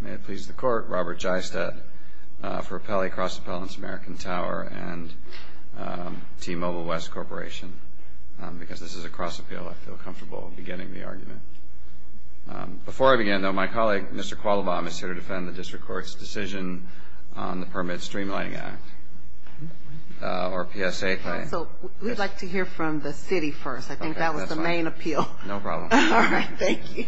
May it please the Court, Robert Jeistet for Appellee Cross Appellants, American Tower and T-Mobile West Corporation. Because this is a cross appeal, I feel comfortable beginning the argument. Before I begin, though, my colleague, Mr. Qualibam, is here to defend the District Court's decision on the Permit Streamlining Act, or PSA. So we'd like to hear from the City first. I think that was the main appeal. No problem. All right. Thank you.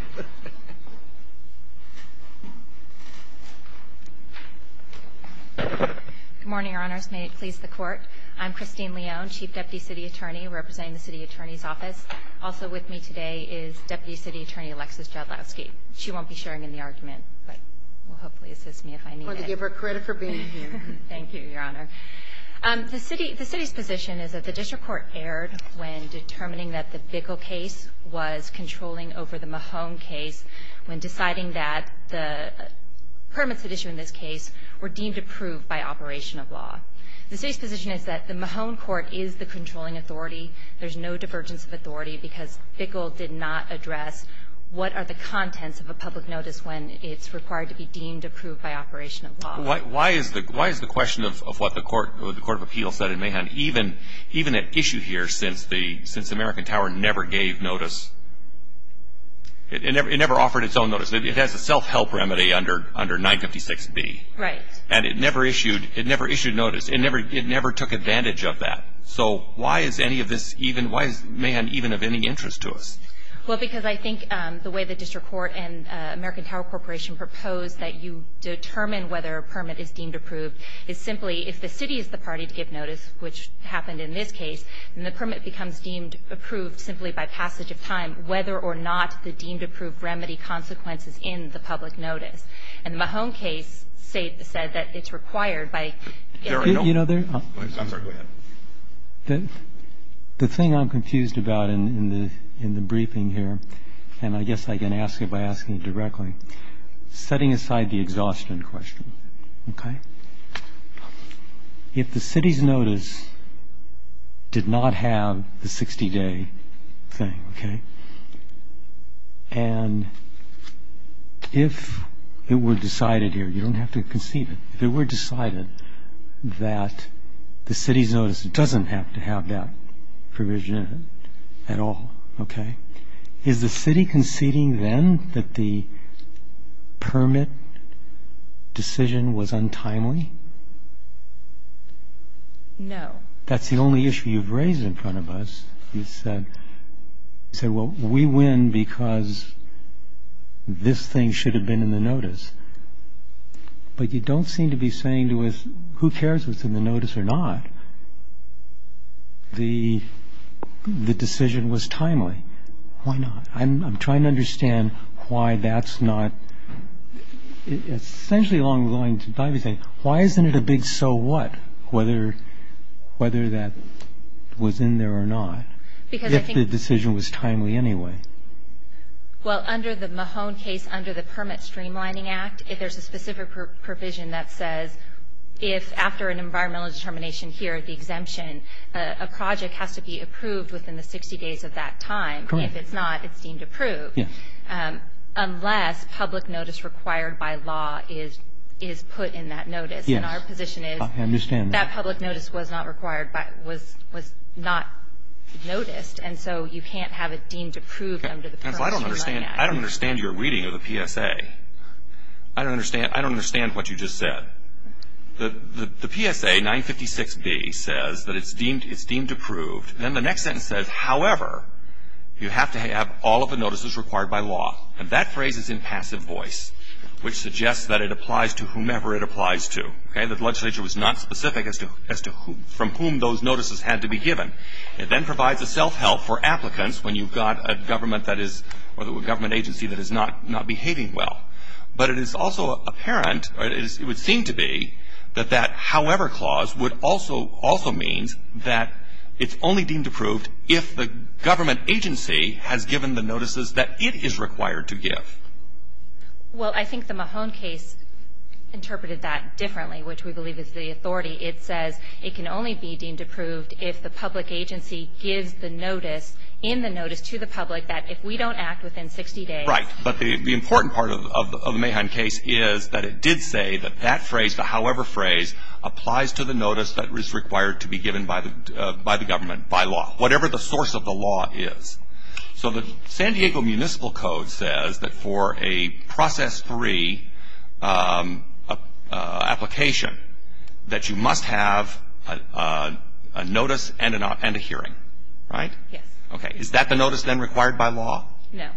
Good morning, Your Honors. May it please the Court. I'm Christine Leone, Chief Deputy City Attorney representing the City Attorney's Office. Also with me today is Deputy City Attorney Alexis Jodlowski. She won't be sharing in the argument, but will hopefully assist me if I need it. I want to give her credit for being here. Thank you, Your Honor. The City's position is that the District Court erred when determining that the Bickle case was controlling over the Mahone case, when deciding that the permits that issue in this case were deemed approved by operation of law. The City's position is that the Mahone court is the controlling authority. There's no divergence of authority because Bickle did not address what are the contents of a public notice when it's required to be deemed approved by operation of law. Why is the question of what the Court of Appeals said in Mahone, even at issue here since American Tower never gave notice? It never offered its own notice. It has a self-help remedy under 956B. Right. And it never issued notice. It never took advantage of that. So why is any of this even – why is Mahone even of any interest to us? Well, because I think the way the District Court and American Tower Corporation proposed that you determine whether a permit is deemed approved is simply if the City is the party to give notice, which happened in this case, then the permit becomes deemed approved simply by passage of time, whether or not the deemed approved remedy consequences in the public notice. And the Mahone case said that it's required by – There are no – I'm sorry. Go ahead. The thing I'm confused about in the briefing here, and I guess I can ask it by asking it directly, setting aside the exhaustion question, okay, if the City's notice did not have the 60-day thing, okay, and if it were decided here – you don't have to concede it – if it were decided that the City's notice doesn't have to have that provision in it at all, okay, is the City conceding then that the permit decision was untimely? No. That's the only issue you've raised in front of us. You said, well, we win because this thing should have been in the notice. But you don't seem to be saying to us who cares if it's in the notice or not. The decision was timely. Why not? I'm trying to understand why that's not – essentially along the lines of, why isn't it a big so what, whether that was in there or not, if the decision was timely anyway? Well, under the Mahone case, under the Permit Streamlining Act, there's a specific provision that says if after an environmental determination here, the exemption, a project has to be approved within the 60 days of that time. Correct. If it's not, it's deemed approved. Yes. Unless public notice required by law is put in that notice. Yes. And our position is – I understand that. That public notice was not required by – was not noticed, and so you can't have it deemed approved under the Permit Streamlining Act. I don't understand your reading of the PSA. I don't understand what you just said. The PSA 956B says that it's deemed approved. Then the next sentence says, however, you have to have all of the notices required by law. And that phrase is in passive voice, which suggests that it applies to whomever it applies to. The legislature was not specific as to from whom those notices had to be given. It then provides a self-help for applicants when you've got a government that is – or a government agency that is not behaving well. But it is also apparent, or it would seem to be, that that however clause would also – also means that it's only deemed approved if the government agency has given the notices that it is required to give. Well, I think the Mahon case interpreted that differently, which we believe is the authority. It says it can only be deemed approved if the public agency gives the notice in the notice to the public that if we don't act within 60 days – Right. But the important part of the Mahon case is that it did say that that phrase, the however phrase, applies to the notice that is required to be given by the government, by law, whatever the source of the law is. So the San Diego Municipal Code says that for a process-free application that you must have a notice and a hearing, right? Yes. Okay. Is that the notice then required by law? No.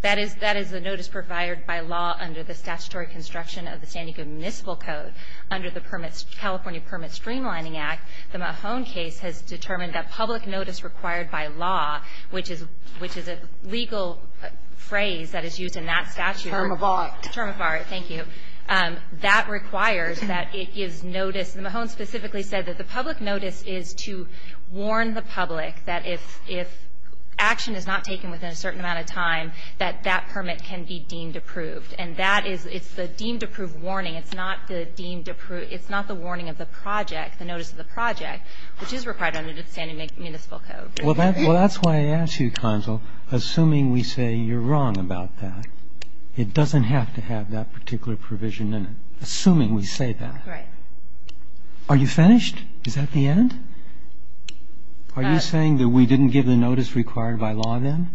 That is the notice provided by law under the statutory construction of the San Diego Municipal Code. Under the California Permit Streamlining Act, the Mahon case has determined that public notice required by law, which is a legal phrase that is used in that statute. Term of art. Term of art, thank you. That requires that it gives notice. The Mahon specifically said that the public notice is to warn the public that if action is not taken within a certain amount of time, that that permit can be deemed approved. And that is the deemed approved warning. It's not the deemed approved. It's not the warning of the project, the notice of the project, which is required under the San Diego Municipal Code. Well, that's why I asked you, Consul, assuming we say you're wrong about that. It doesn't have to have that particular provision in it, assuming we say that. Right. Are you finished? Is that the end? Are you saying that we didn't give the notice required by law then?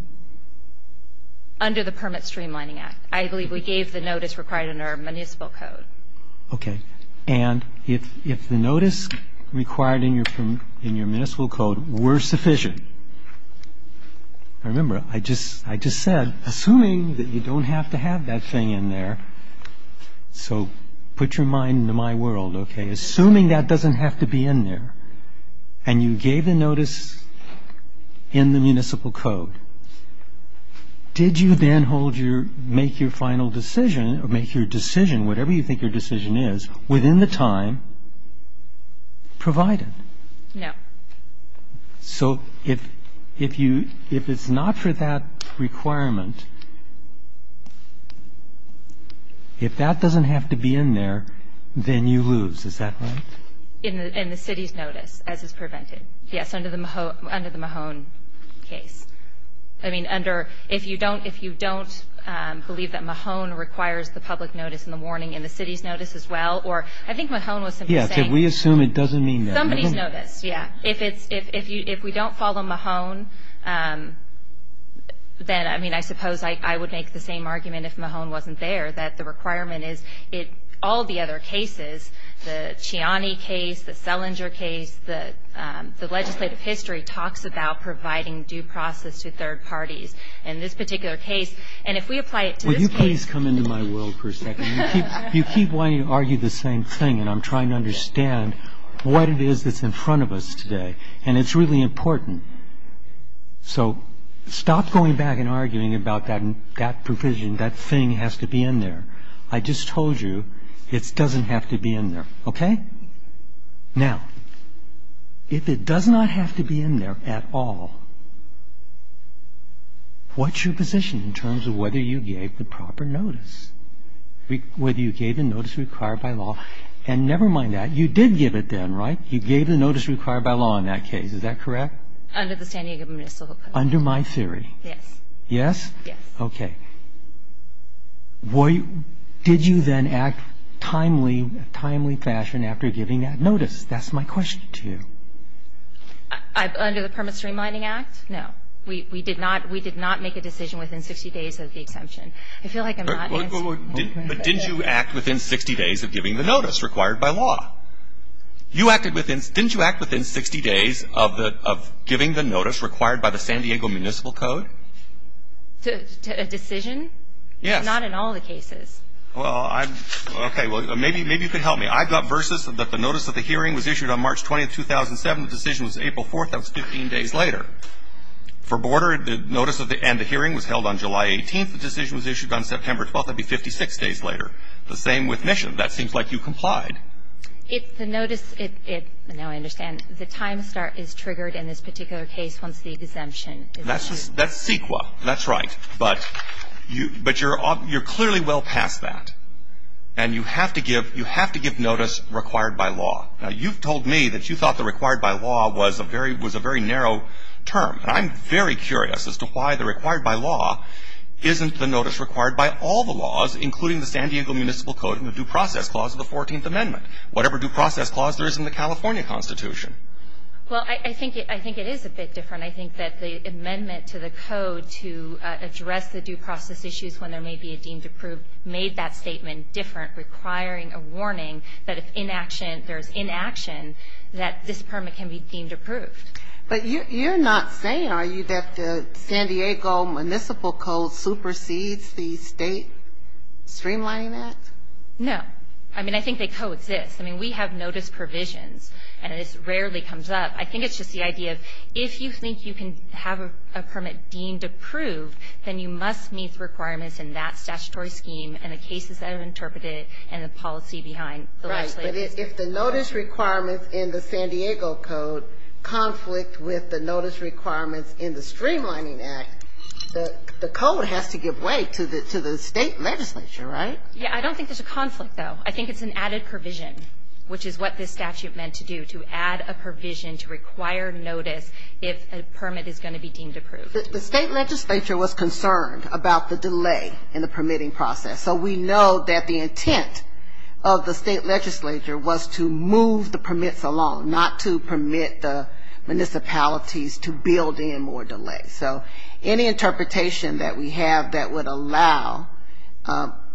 Under the Permit Streamlining Act. I believe we gave the notice required under our municipal code. Okay. And if the notice required in your municipal code were sufficient, I remember I just said, assuming that you don't have to have that thing in there, so put your mind into my world, okay, assuming that doesn't have to be in there, and you gave the notice in the municipal code, did you then hold your, make your final decision or make your decision, whatever you think your decision is, within the time provided? No. So if you, if it's not for that requirement, if that doesn't have to be in there, then you lose. Is that right? In the city's notice, as is prevented. Yes, under the Mahone case. I mean, under, if you don't believe that Mahone requires the public notice and the warning in the city's notice as well, or I think Mahone was simply saying. Yes, we assume it doesn't mean that. Somebody's noticed, yes. If we don't follow Mahone, then, I mean, I suppose I would make the same argument if Mahone wasn't there, that the requirement is, all the other cases, the Chiani case, the Selinger case, the legislative history talks about providing due process to third parties. In this particular case, and if we apply it to this case. Will you please come into my world for a second? You keep wanting to argue the same thing, and I'm trying to understand what it is that's in front of us today, and it's really important. So stop going back and arguing about that provision, that thing has to be in there. I just told you it doesn't have to be in there, okay? Now, if it does not have to be in there at all, what's your position in terms of whether you gave the proper notice? Whether you gave the notice required by law, and never mind that, you did give it then, right? You gave the notice required by law in that case, is that correct? Under the San Diego Municipal Code. Under my theory. Yes. Yes? Yes. Okay. Did you then act timely, in a timely fashion after giving that notice? That's my question to you. Under the Permit Streamlining Act? No. We did not make a decision within 60 days of the exemption. I feel like I'm not answering your question. But didn't you act within 60 days of giving the notice required by law? Didn't you act within 60 days of giving the notice required by the San Diego Municipal Code? A decision? Yes. Not in all the cases. Well, okay, maybe you could help me. I got versus that the notice of the hearing was issued on March 20th, 2007. The decision was April 4th. That was 15 days later. For Border, the notice and the hearing was held on July 18th. The decision was issued on September 12th. That would be 56 days later. The same with Mission. That seems like you complied. It's the notice. Now I understand. The time start is triggered in this particular case once the exemption is issued. That's CEQA. That's right. But you're clearly well past that. And you have to give notice required by law. Now, you've told me that you thought the required by law was a very narrow term. And I'm very curious as to why the required by law isn't the notice required by all the laws, including the San Diego Municipal Code and the due process clause of the 14th Amendment, whatever due process clause there is in the California Constitution. Well, I think it is a bit different. I think that the amendment to the code to address the due process issues when there may be a deemed approved made that statement different, requiring a warning that if there's inaction, that this permit can be deemed approved. But you're not saying, are you, that the San Diego Municipal Code supersedes the state streamlining act? No. I mean, I think they coexist. I mean, we have notice provisions, and it rarely comes up. I think it's just the idea of if you think you can have a permit deemed approved, then you must meet the requirements in that statutory scheme and the cases that are interpreted and the policy behind the legislation. Right. But if the notice requirements in the San Diego Code conflict with the notice requirements in the Streamlining Act, the code has to give way to the state legislature, right? Yeah. I don't think there's a conflict, though. I think it's an added provision, which is what this statute meant to do, to add a provision to require notice if a permit is going to be deemed approved. The state legislature was concerned about the delay in the permitting process. So we know that the intent of the state legislature was to move the permits along, not to permit the municipalities to build in more delay. So any interpretation that we have that would allow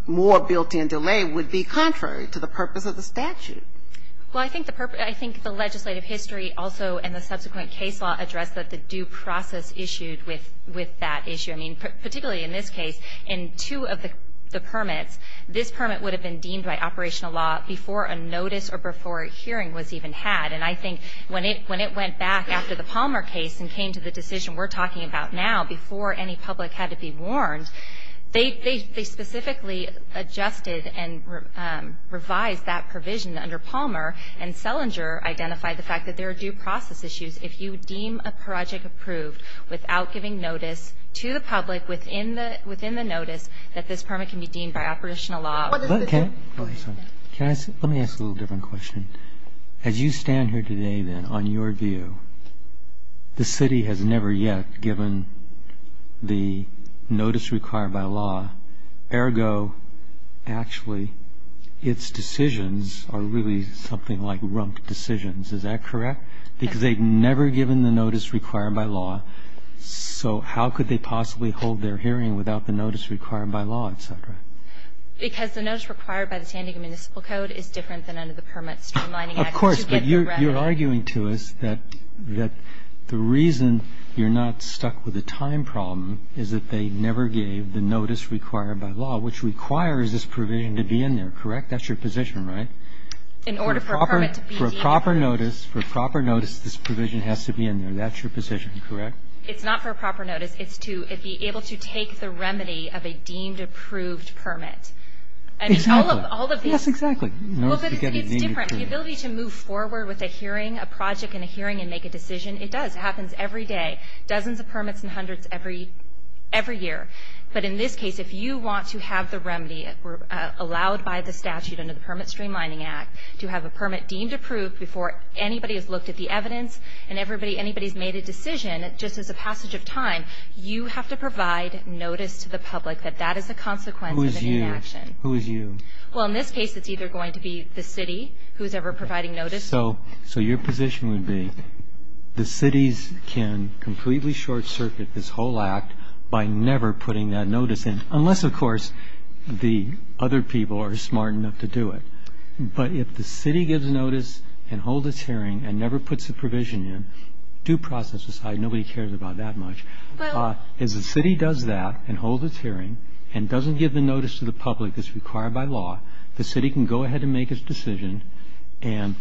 more built-in delay would be contrary to the purpose of the statute. Well, I think the legislative history also and the subsequent case law address that the due process issued with that issue. I mean, particularly in this case, in two of the permits, this permit would have been deemed by operational law before a notice or before a hearing was even had. And I think when it went back after the Palmer case and came to the decision we're talking about now, before any public had to be warned, they specifically adjusted and revised that provision under Palmer, and Selinger identified the fact that there are due process issues. If you deem a project approved without giving notice to the public within the notice, that this permit can be deemed by operational law. Let me ask a little different question. As you stand here today, then, on your view, the city has never yet given the notice required by law. Ergo, actually, its decisions are really something like rump decisions. Is that correct? Because they've never given the notice required by law. So how could they possibly hold their hearing without the notice required by law, et cetera? Because the notice required by the San Diego Municipal Code is different than under the Permit Streamlining Act. Of course, but you're arguing to us that the reason you're not stuck with a time problem is that they never gave the notice required by law, which requires this provision to be in there, correct? That's your position, right? In order for a permit to be deemed. For a proper notice, this provision has to be in there. That's your position, correct? It's not for a proper notice. It's to be able to take the remedy of a deemed approved permit. Exactly. All of these. Yes, exactly. Well, but it's different. The ability to move forward with a hearing, a project in a hearing and make a decision, it does. It happens every day. Dozens of permits and hundreds every year. But in this case, if you want to have the remedy, allowed by the statute under the Permit Streamlining Act, to have a permit deemed approved before anybody has looked at the evidence and anybody's made a decision just as a passage of time, you have to provide notice to the public that that is a consequence of an inaction. Who is you? Well, in this case, it's either going to be the city who is ever providing notice. So your position would be the cities can completely short-circuit this whole act by never putting that notice in, unless, of course, the other people are smart enough to do it. But if the city gives notice and holds its hearing and never puts a provision in, due process aside, nobody cares about that much. If the city does that and holds its hearing and doesn't give the notice to the public that's required by law, the city can go ahead and make its decision and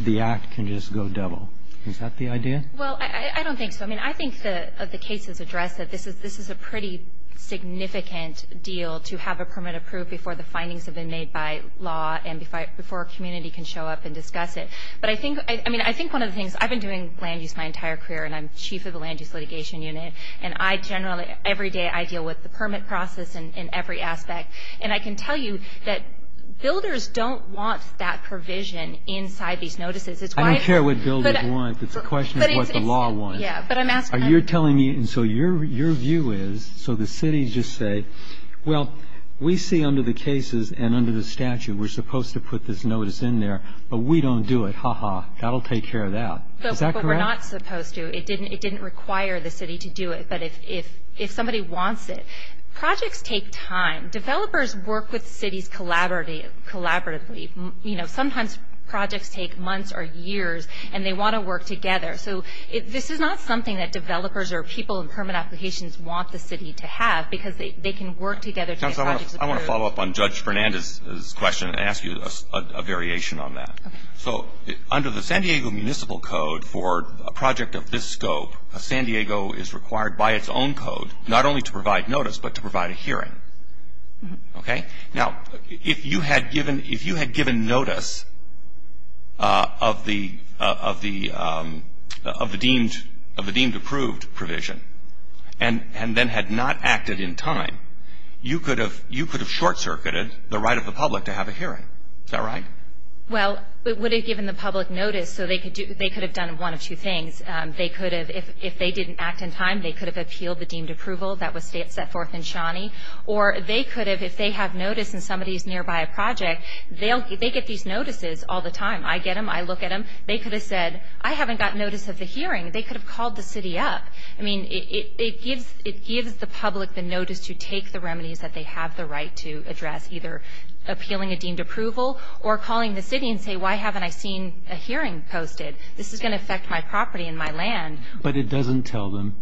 the act can just go double. Is that the idea? Well, I don't think so. I mean, I think the case is addressed that this is a pretty significant deal, to have a permit approved before the findings have been made by law and before a community can show up and discuss it. But I think one of the things, I've been doing land use my entire career and I'm chief of the Land Use Litigation Unit, and I generally, every day, I deal with the permit process in every aspect. And I can tell you that builders don't want that provision inside these notices. I don't care what builders want. The question is what the law wants. Yeah, but I'm asking. You're telling me, and so your view is, so the city just say, well, we see under the cases and under the statute we're supposed to put this notice in there, but we don't do it. Ha-ha. That'll take care of that. Is that correct? But we're not supposed to. It didn't require the city to do it. But if somebody wants it. Projects take time. Developers work with cities collaboratively. You know, sometimes projects take months or years, and they want to work together. So this is not something that developers or people in permit applications want the city to have because they can work together to get projects approved. I want to follow up on Judge Fernandez's question and ask you a variation on that. So under the San Diego Municipal Code for a project of this scope, San Diego is required by its own code not only to provide notice but to provide a hearing. Okay? Now, if you had given notice of the deemed approved provision and then had not acted in time, you could have short-circuited the right of the public to have a hearing. Is that right? Well, it would have given the public notice. So they could have done one of two things. They could have, if they didn't act in time, they could have appealed the deemed approval that was set forth in Shawnee. Or they could have, if they have notice and somebody is nearby a project, they get these notices all the time. I get them. I look at them. They could have said, I haven't gotten notice of the hearing. They could have called the city up. I mean, it gives the public the notice to take the remedies that they have the right to address, either appealing a deemed approval or calling the city and say, why haven't I seen a hearing posted? This is going to affect my property and my land. But it doesn't tell them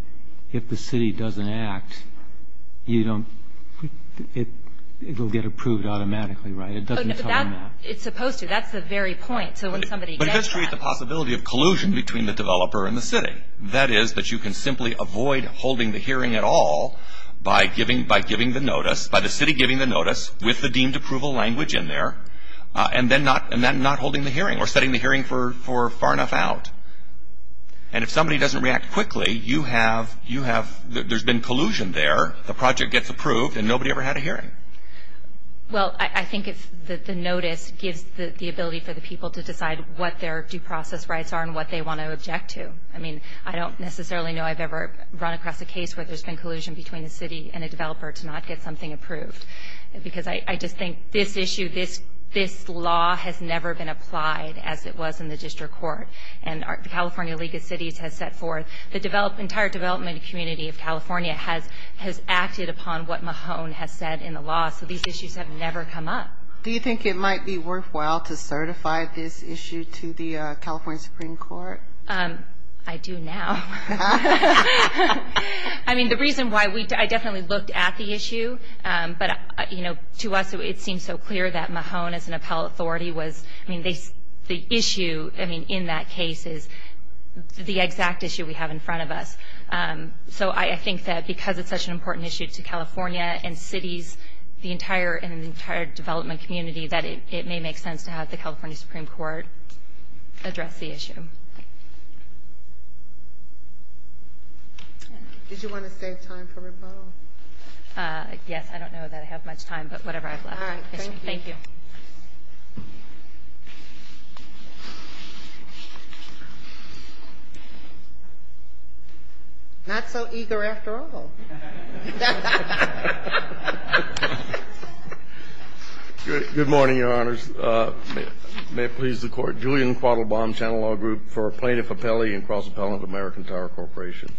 if the city doesn't act, you don't, it will get approved automatically, right? It doesn't tell them that. It's supposed to. That's the very point. So when somebody gets that. But it does create the possibility of collusion between the developer and the city. That is that you can simply avoid holding the hearing at all by giving the notice, by the city giving the notice, with the deemed approval language in there, and then not holding the hearing or setting the hearing for far enough out. And if somebody doesn't react quickly, you have, there's been collusion there. The project gets approved and nobody ever had a hearing. Well, I think the notice gives the ability for the people to decide what their due process rights are and what they want to object to. I mean, I don't necessarily know I've ever run across a case where there's been collusion between a city and a developer to not get something approved. Because I just think this issue, this law has never been applied as it was in the district court. And the California League of Cities has set forth, the entire development community of California has acted upon what Mahone has said in the law. So these issues have never come up. Do you think it might be worthwhile to certify this issue to the California Supreme Court? I do now. I mean, the reason why we, I definitely looked at the issue. But, you know, to us it seems so clear that Mahone as an appellate authority was, I mean, the issue, I mean, in that case is the exact issue we have in front of us. So I think that because it's such an important issue to California and cities, the entire development community, that it may make sense to have the California Supreme Court address the issue. Did you want to save time for rebuttal? Yes, I don't know that I have much time, but whatever I have left. All right, thank you. Thank you. Not so eager after all. Good morning, Your Honors. May it please the Court. Julian Quattlebaum, Channel Law Group for Plaintiff Appellee and Cross-Appellant of American Tower Corporation.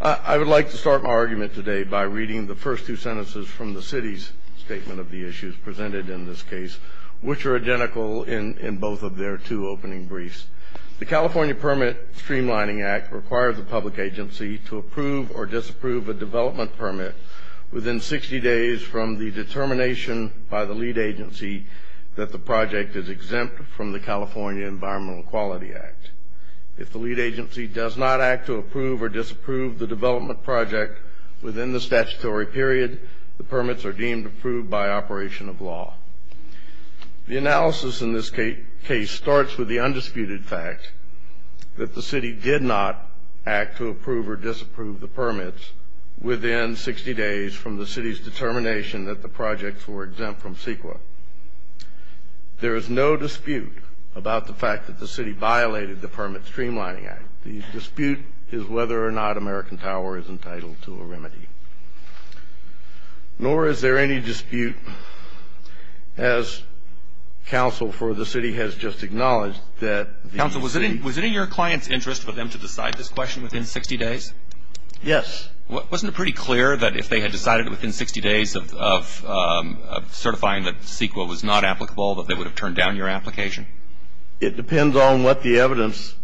I would like to start my argument today by reading the first two sentences from the city's statement of the issues presented in this case, which are identical in both of their two opening briefs. The California Permit Streamlining Act requires the public agency to approve or disapprove a development permit within 60 days from the determination by the lead agency that the project is exempt from the California Environmental Quality Act. If the lead agency does not act to approve or disapprove the development project within the statutory period, the permits are deemed approved by operation of law. The analysis in this case starts with the undisputed fact that the city did not act to approve or disapprove the permits within 60 days from the city's determination that the projects were exempt from CEQA. There is no dispute about the fact that the city violated the Permit Streamlining Act. The dispute is whether or not American Tower is entitled to a remedy. Nor is there any dispute, as counsel for the city has just acknowledged, that the city. Counsel, was it in your client's interest for them to decide this question within 60 days? Yes. Wasn't it pretty clear that if they had decided within 60 days of certifying that CEQA was not applicable, that they would have turned down your application? It depends on what the evidence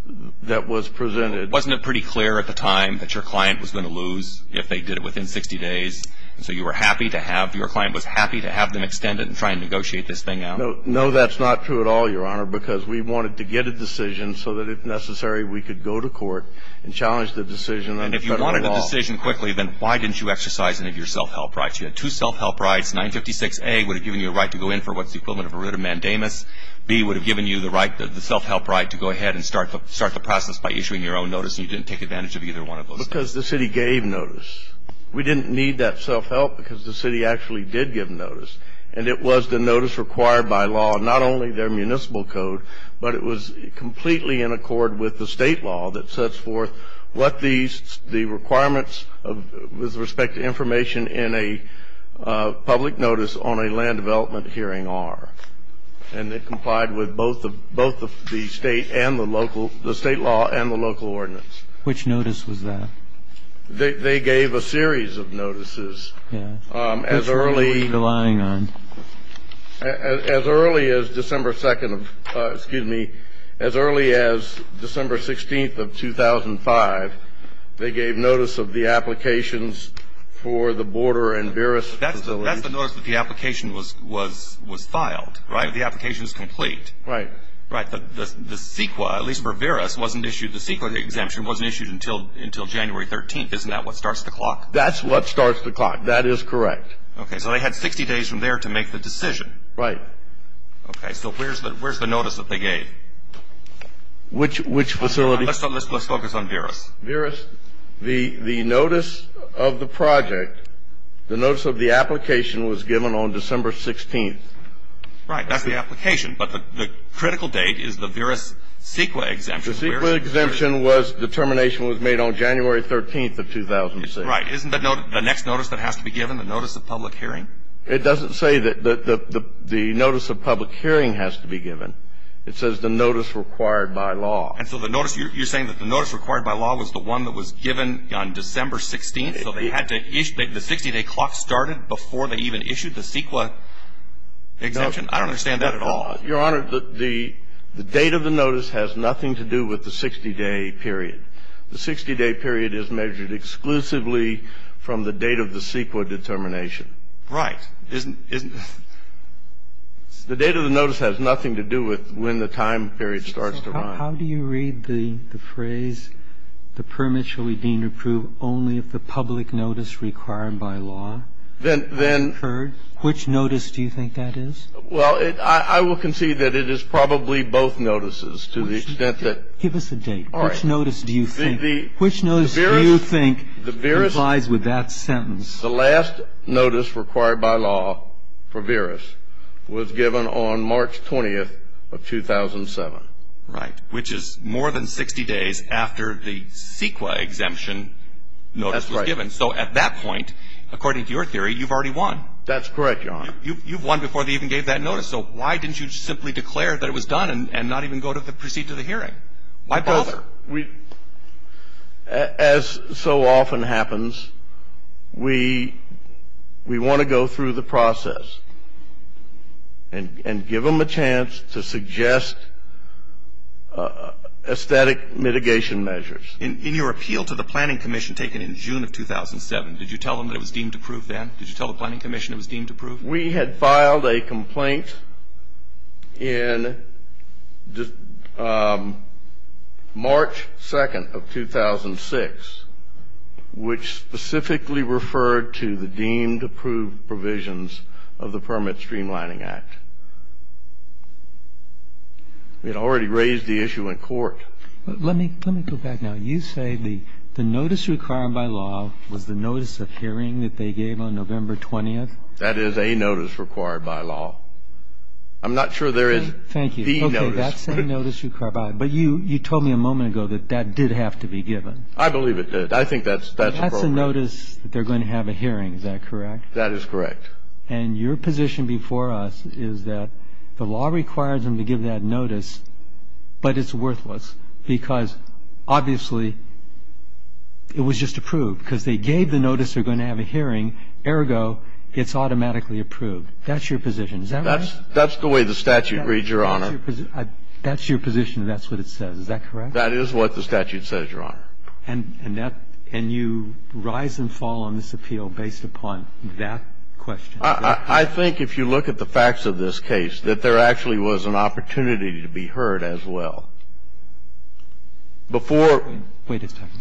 that was presented. Wasn't it pretty clear at the time that your client was going to lose if they did it within 60 days? And so you were happy to have, your client was happy to have them extend it and try and negotiate this thing out? No, that's not true at all, Your Honor, because we wanted to get a decision so that if necessary, we could go to court and challenge the decision under Federal law. And if you wanted a decision quickly, then why didn't you exercise any of your self-help rights? You had two self-help rights. 956A would have given you a right to go in for what's the equivalent of a writ of mandamus. 956B would have given you the self-help right to go ahead and start the process by issuing your own notice, and you didn't take advantage of either one of those things. Because the city gave notice. We didn't need that self-help because the city actually did give notice, and it was the notice required by law, not only their municipal code, but it was completely in accord with the state law that sets forth what the requirements with respect to information in a public notice on a land development hearing are. And it complied with both the state and the local – the state law and the local ordinance. Which notice was that? They gave a series of notices. Yeah. As early as December 2nd of – excuse me, as early as December 16th of 2005, they gave notice of the applications for the border and Buras facility. That's the notice that the application was filed, right? The application is complete. Right. Right. The CEQA, at least for Buras, wasn't issued – the CEQA exemption wasn't issued until January 13th. Isn't that what starts the clock? That's what starts the clock. That is correct. Okay. So they had 60 days from there to make the decision. Right. Okay. So where's the notice that they gave? Which facility? Let's focus on Buras. Buras. The notice of the project, the notice of the application, was given on December 16th. Right. That's the application. But the critical date is the Buras CEQA exemption. The CEQA exemption was – determination was made on January 13th of 2006. Right. Isn't that the next notice that has to be given, the notice of public hearing? It doesn't say that the notice of public hearing has to be given. It says the notice required by law. And so the notice – you're saying that the notice required by law was the one that was given on December 16th, so they had to – the 60-day clock started before they even issued the CEQA exemption? I don't understand that at all. Your Honor, the date of the notice has nothing to do with the 60-day period. The 60-day period is measured exclusively from the date of the CEQA determination. Right. Isn't – isn't – The date of the notice has nothing to do with when the time period starts to run. How do you read the phrase, the permit shall be deemed approved only if the public notice required by law occurred? Then – then – Which notice do you think that is? Well, it – I will concede that it is probably both notices to the extent that – Give us a date. All right. Which notice do you think – The Buras – Which notice do you think complies with that sentence? The last notice required by law for Buras was given on March 20th of 2007. Right. Which is more than 60 days after the CEQA exemption notice was given. That's right. So at that point, according to your theory, you've already won. That's correct, Your Honor. You've won before they even gave that notice. So why didn't you simply declare that it was done and not even go to proceed to the hearing? Why bother? We – as so often happens, we want to go through the process and give them a chance to suggest aesthetic mitigation measures. In your appeal to the planning commission taken in June of 2007, did you tell them that it was deemed approved then? Did you tell the planning commission it was deemed approved? We had filed a complaint in March 2nd of 2006, which specifically referred to the deemed approved provisions of the Permit Streamlining Act. We had already raised the issue in court. Let me go back now. You say the notice required by law was the notice of hearing that they gave on November 20th? That is a notice required by law. I'm not sure there is the notice. Thank you. Okay, that's a notice required by law. But you told me a moment ago that that did have to be given. I believe it did. I think that's appropriate. That's a notice that they're going to have a hearing. Is that correct? That is correct. And your position before us is that the law requires them to give that notice, but it's worthless, because obviously it was just approved, because they gave the notice they're going to have a hearing. Ergo, it's automatically approved. That's your position. Is that right? That's the way the statute reads, Your Honor. That's your position and that's what it says. Is that correct? That is what the statute says, Your Honor. And you rise and fall on this appeal based upon that question. I think if you look at the facts of this case, that there actually was an opportunity to be heard as well. Before ---- Wait a second.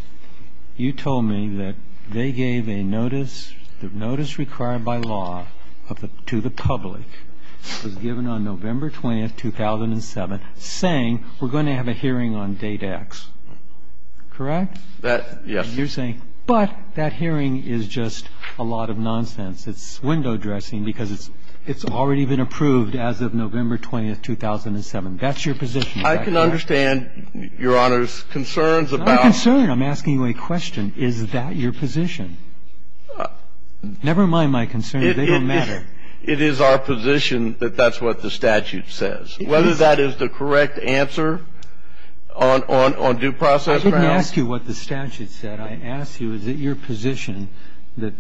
You told me that they gave a notice, the notice required by law to the public, was given on November 20th, 2007, saying we're going to have a hearing on Date X. Correct? Yes. You're saying, but that hearing is just a lot of nonsense. It's window dressing because it's already been approved as of November 20th, 2007. That's your position. I can understand, Your Honor's concerns about ---- It's not a concern. I'm asking you a question. Is that your position? Never mind my concerns. They don't matter. It is our position that that's what the statute says. Whether that is the correct answer on due process grounds ---- I didn't ask you what the statute said. I asked you, is it your position that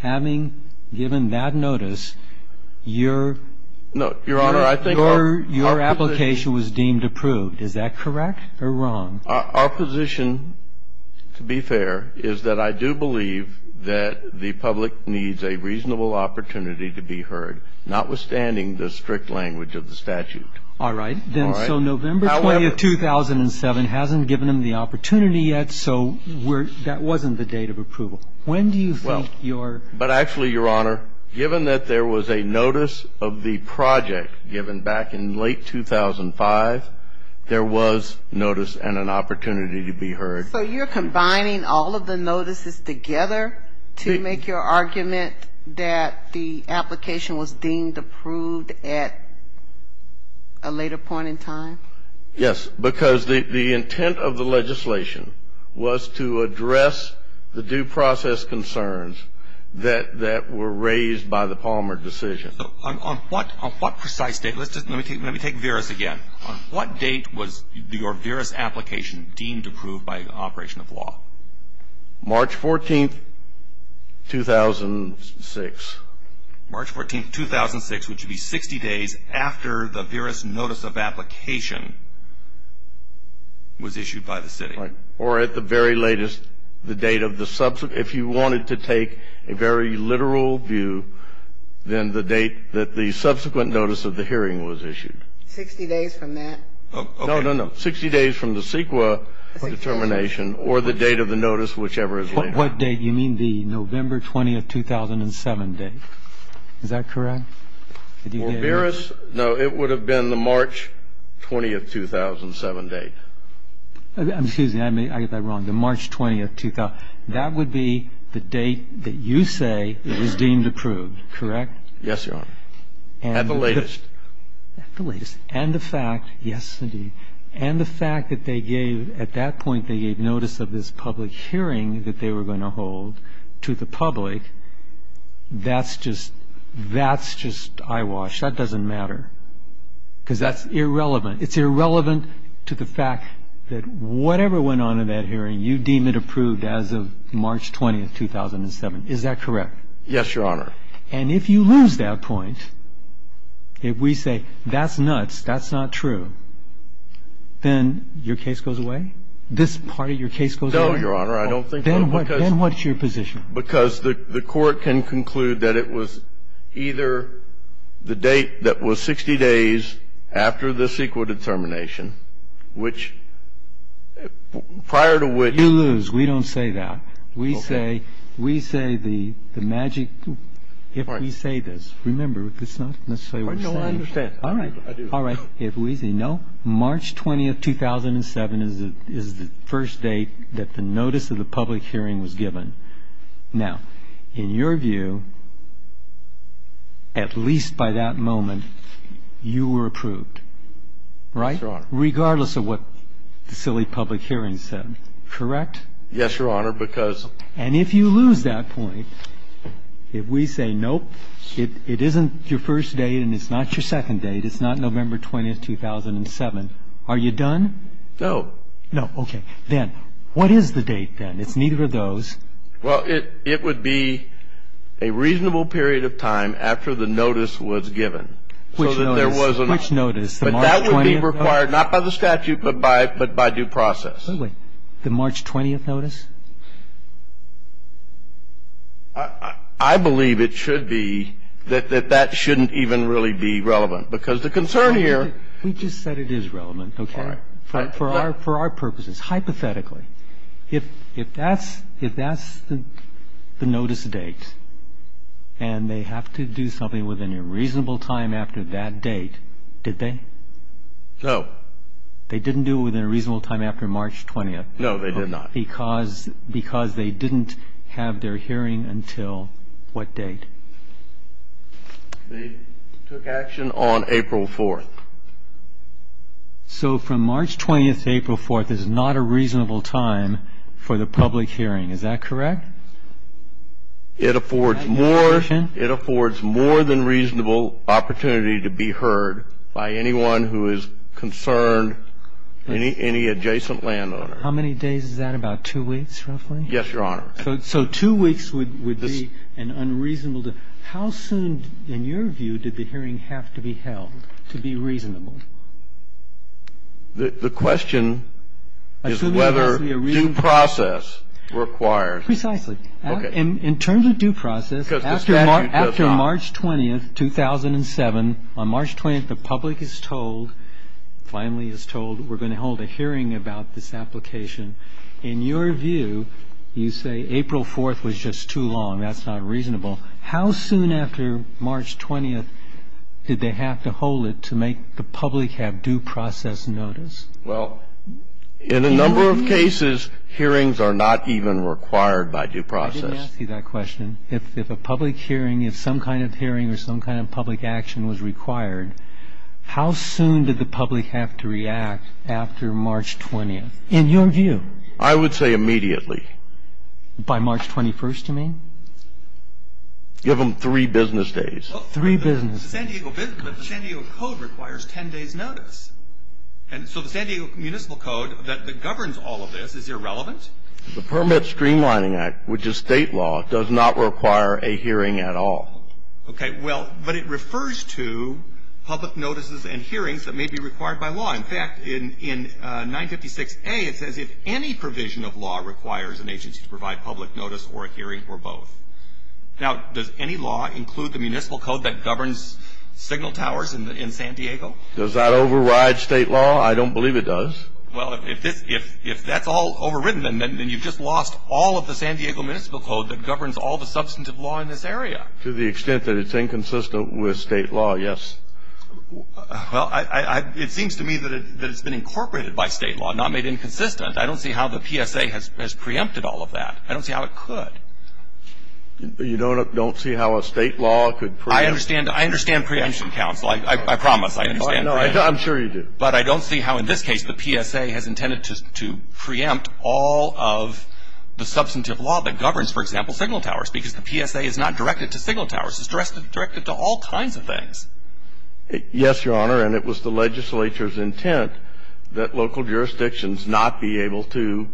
having given that notice, your ---- No, Your Honor, I think our position ---- Your application was deemed approved. Is that correct or wrong? Our position, to be fair, is that I do believe that the public needs a reasonable opportunity to be heard, notwithstanding the strict language of the statute. All right. Then so November 20th, 2007 hasn't given them the opportunity yet, so that wasn't the date of approval. When do you think your ---- Well, but actually, Your Honor, given that there was a notice of the project given back in late 2005, there was notice and an opportunity to be heard. So you're combining all of the notices together to make your argument that the application was deemed approved at a later point in time? Yes, because the intent of the legislation was to address the due process concerns that were raised by the Palmer decision. On what precise date? Let me take Veris again. On what date was your Veris application deemed approved by an operation of law? March 14th, 2006. March 14th, 2006, which would be 60 days after the Veris notice of application was issued by the city. Right. Or at the very latest, the date of the subsequent. If you wanted to take a very literal view, then the date that the subsequent notice of the hearing was issued. Sixty days from that? No, no, no. Sixty days from the CEQA determination or the date of the notice, whichever is later. What date? You mean the November 20th, 2007 date. Is that correct? Veris? No. It would have been the March 20th, 2007 date. Excuse me. I get that wrong. The March 20th, 2007. That would be the date that you say is deemed approved, correct? Yes, Your Honor. At the latest. At the latest. And the fact, yes, indeed, and the fact that they gave at that point, they gave notice of this public hearing that they were going to hold to the public, that's just, that's just eyewash. That doesn't matter. Because that's irrelevant. It's irrelevant to the fact that whatever went on in that hearing, you deem it approved as of March 20th, 2007. Is that correct? Yes, Your Honor. And if you lose that point, if we say that's nuts, that's not true, then your case goes away? This part of your case goes away? No, Your Honor. I don't think so. Then what's your position? Because the Court can conclude that it was either the date that was 60 days after the CEQA determination, which prior to which. You lose. We don't say that. We say, we say the magic, if we say this. Remember, it's not necessarily what you're saying. No, I understand. I do. All right. If we say no, March 20th, 2007 is the first date that the notice of the public hearing was given. Now, in your view, at least by that moment, you were approved, right? Yes, Your Honor. Regardless of what the silly public hearing said, correct? Yes, Your Honor, because. And if you lose that point, if we say nope, it isn't your first date and it's not your second date, it's not November 20th, 2007, are you done? No. No. Okay. Then what is the date then? It's neither of those. Well, it would be a reasonable period of time after the notice was given. Which notice? Which notice? The March 20th notice? But that would be required not by the statute but by due process. By the way, the March 20th notice? I believe it should be that that shouldn't even really be relevant, because the concern here. We just said it is relevant, okay? All right. For our purposes, hypothetically, if that's the notice date and they have to do something within a reasonable time after that date, did they? No. They didn't do it within a reasonable time after March 20th? No, they did not. Because they didn't have their hearing until what date? They took action on April 4th. So from March 20th to April 4th is not a reasonable time for the public hearing, is that correct? It affords more than reasonable opportunity to be heard by anyone who is concerned, any adjacent landowner. How many days is that? About two weeks, roughly? Yes, Your Honor. So two weeks would be an unreasonable. How soon, in your view, did the hearing have to be held to be reasonable? The question is whether due process requires it. Precisely. In terms of due process, after March 20th, 2007, on March 20th, the public is told, finally is told, we're going to hold a hearing about this application. In your view, you say April 4th was just too long, that's not reasonable. How soon after March 20th did they have to hold it to make the public have due process notice? Well, in a number of cases, hearings are not even required by due process. I didn't ask you that question. If a public hearing, if some kind of hearing or some kind of public action was required, how soon did the public have to react after March 20th, in your view? I would say immediately. By March 21st, you mean? Give them three business days. Three business days. The San Diego code requires ten days' notice. And so the San Diego municipal code that governs all of this is irrelevant? The Permit Streamlining Act, which is state law, does not require a hearing at all. Okay. Well, but it refers to public notices and hearings that may be required by law. In fact, in 956A, it says if any provision of law requires an agency to provide public notice or a hearing or both. Now, does any law include the municipal code that governs signal towers in San Diego? Does that override state law? I don't believe it does. Well, if that's all overridden, then you've just lost all of the San Diego municipal code that governs all the substantive law in this area. To the extent that it's inconsistent with state law, yes. Well, it seems to me that it's been incorporated by state law, not made inconsistent. I don't see how the PSA has preempted all of that. I don't see how it could. You don't see how a state law could preempt? I understand preemption, counsel. I promise I understand preemption. I'm sure you do. But I don't see how in this case the PSA has intended to preempt all of the substantive law that governs, for example, signal towers, because the PSA is not directed to signal towers. It's directed to all kinds of things. Yes, Your Honor, and it was the legislature's intent that local jurisdictions not be able to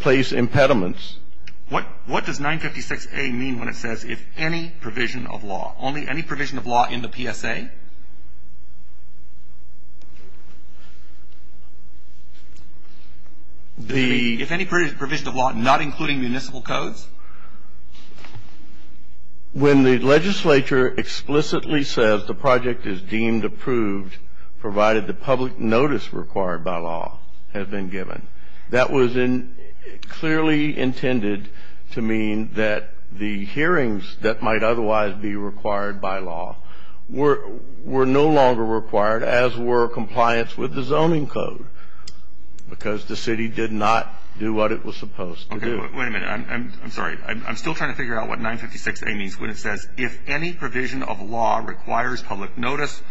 place impediments. What does 956A mean when it says if any provision of law? Only any provision of law in the PSA? If any provision of law not including municipal codes? When the legislature explicitly says the project is deemed approved, provided the public notice required by law has been given. That was clearly intended to mean that the hearings that might otherwise be required by law were no longer required, as were compliance with the zoning code, because the city did not do what it was supposed to do. Wait a minute. I'm sorry. I'm still trying to figure out what 956A means when it says if any provision of law requires public notice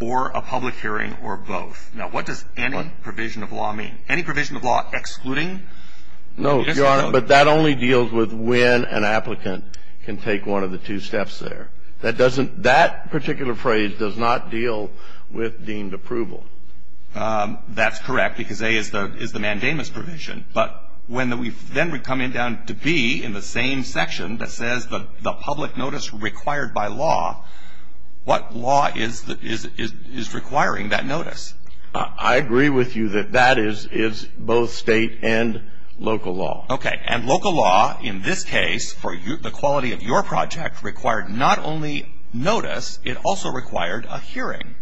or a public hearing or both. Now, what does any provision of law mean? Any provision of law excluding municipal code? No, Your Honor, but that only deals with when an applicant can take one of the two steps there. That doesn't – that particular phrase does not deal with deemed approval. That's correct, because A is the mandamus provision. But when we then come down to B in the same section that says the public notice required by law, what law is requiring that notice? I agree with you that that is both State and local law. Okay. And local law in this case for the quality of your project required not only notice, it also required a hearing.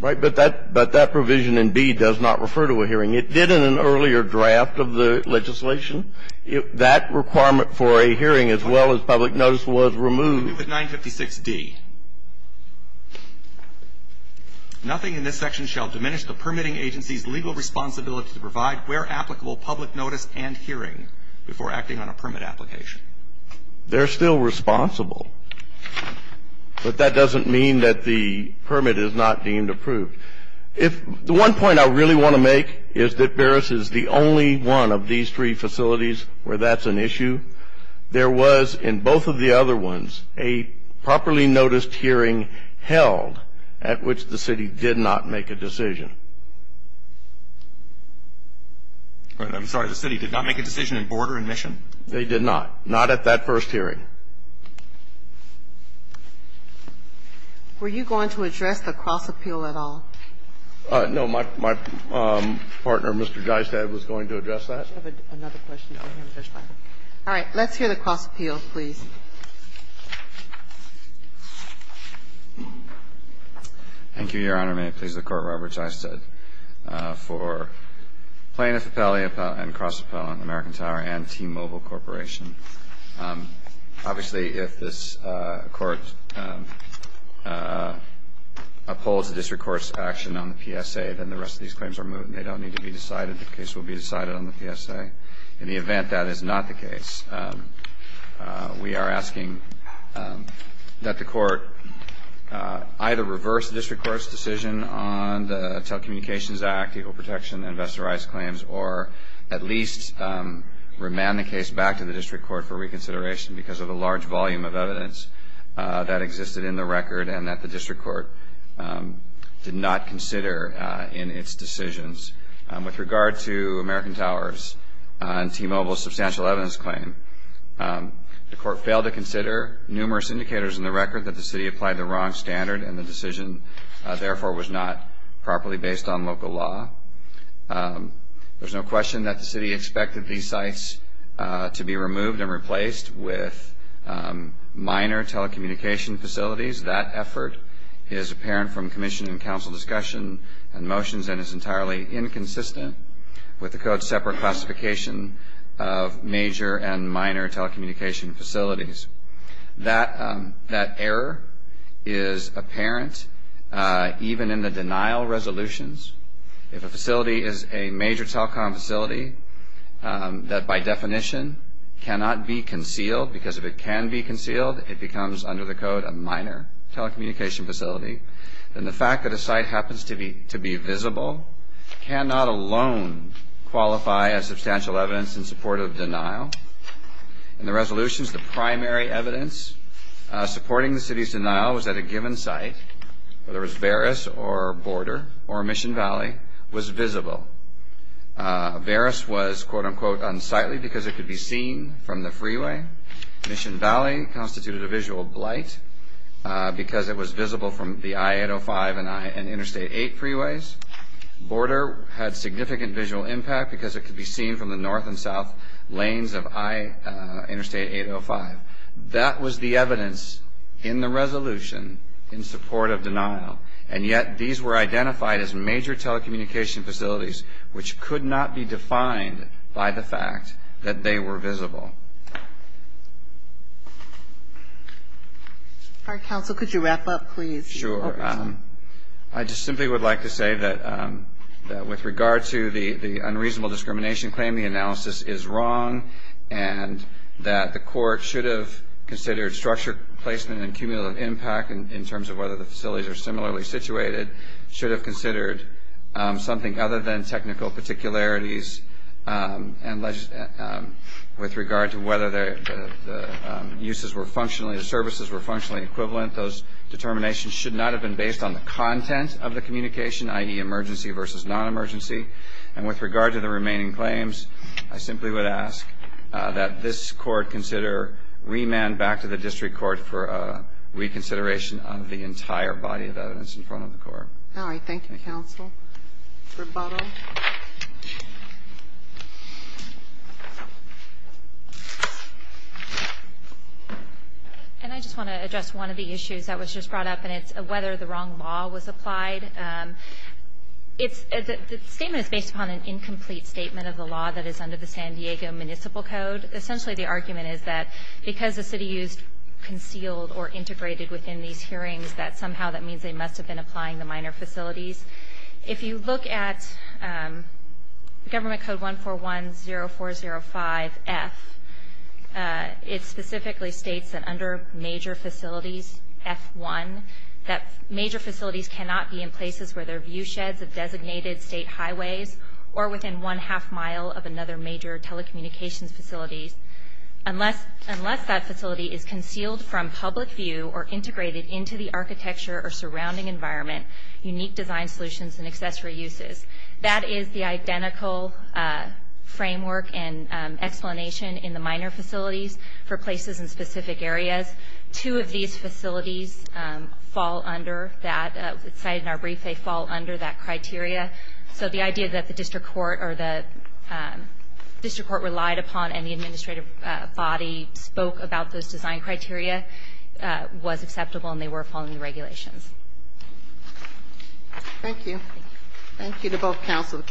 Right. But that provision in B does not refer to a hearing. It did in an earlier draft of the legislation. That requirement for a hearing as well as public notice was removed. All right. We'll move to 956D. Nothing in this section shall diminish the permitting agency's legal responsibility to provide where applicable public notice and hearing before acting on a permit application. They're still responsible. But that doesn't mean that the permit is not deemed approved. If – the one point I really want to make is that Beres is the only one of these three facilities where that's an issue. There was, in both of the other ones, a properly noticed hearing held at which the city did not make a decision. I'm sorry. The city did not make a decision in border admission? They did not. Not at that first hearing. Were you going to address the cross-appeal at all? No. My partner, Mr. Geistad, was going to address that. All right. Let's hear the cross-appeal, please. Thank you, Your Honor. May it please the Court, Robert Geistad, for plaintiff appellee and cross-appellant, American Tower and T-Mobile Corporation. Obviously, if this Court upholds the district court's action on the PSA, then the rest of these claims are moved and they don't need to be decided. The case will be decided on the PSA. In the event that is not the case, we are asking that the Court either reverse the district court's decision on the Telecommunications Act, Equal Protection, and Vesta Rice claims, or at least remand the case back to the district court for reconsideration because of the large volume of evidence that existed in the record and that the district court did not consider in its decisions. With regard to American Towers and T-Mobile's substantial evidence claim, the Court failed to consider numerous indicators in the record that the city applied the wrong standard and the decision, therefore, was not properly based on local law. There's no question that the city expected these sites to be removed and replaced with minor telecommunication facilities. That effort is apparent from commission and council discussion and motions and is entirely inconsistent with the Code's separate classification of major and minor telecommunication facilities. That error is apparent even in the denial resolutions. If a facility is a major telecom facility that, by definition, cannot be concealed, because if it can be concealed, it becomes under the Code a minor telecommunication facility, then the fact that a site happens to be visible cannot alone qualify as substantial evidence in support of denial. In the resolutions, the primary evidence supporting the city's denial was that a given site, whether it was Verus or Border or Mission Valley, was visible. Verus was, quote, unquote, unsightly because it could be seen from the freeway. Mission Valley constituted a visual blight because it was visible from the I-805 and Interstate 8 freeways. Border had significant visual impact because it could be seen from the north and south lanes of Interstate 805. That was the evidence in the resolution in support of denial. And yet these were identified as major telecommunication facilities, which could not be defined by the fact that they were visible. MS. Our counsel, could you wrap up, please? MR. Sure. I just simply would like to say that with regard to the unreasonable discrimination claim, the analysis is wrong and that the court should have considered structure placement and cumulative impact in terms of whether the facilities are similarly situated, should have considered something other than technical particularities with regard to whether the services were functionally equivalent. Those determinations should not have been based on the content of the communication, i.e., emergency versus non-emergency. And with regard to the remaining claims, I simply would ask that this court consider remand back to the district court for a reconsideration of the entire body of evidence in front of the court. MS. All right. Thank you, counsel. Rebuttal. MS. And I just want to address one of the issues that was just brought up, and it's whether the wrong law was applied. The statement is based upon an incomplete statement of the law that is under the San Diego Municipal Code. Essentially the argument is that because the city used concealed or integrated within these hearings that somehow that means they must have been applying the minor facilities. If you look at Government Code 1410405F, it specifically states that under major facilities, F1, that major facilities cannot be in places where there are view sheds of designated state highways or within one-half mile of another major telecommunications facility unless that facility is concealed from public view or integrated into the architecture or surrounding environment, unique design solutions, and accessory uses. That is the identical framework and explanation in the minor facilities for places in specific areas. Two of these facilities fall under that. It's cited in our brief they fall under that criteria. So the idea that the district court relied upon and the administrative body spoke about those design criteria was acceptable and they were following the regulations. Thank you. Thank you to both counsel.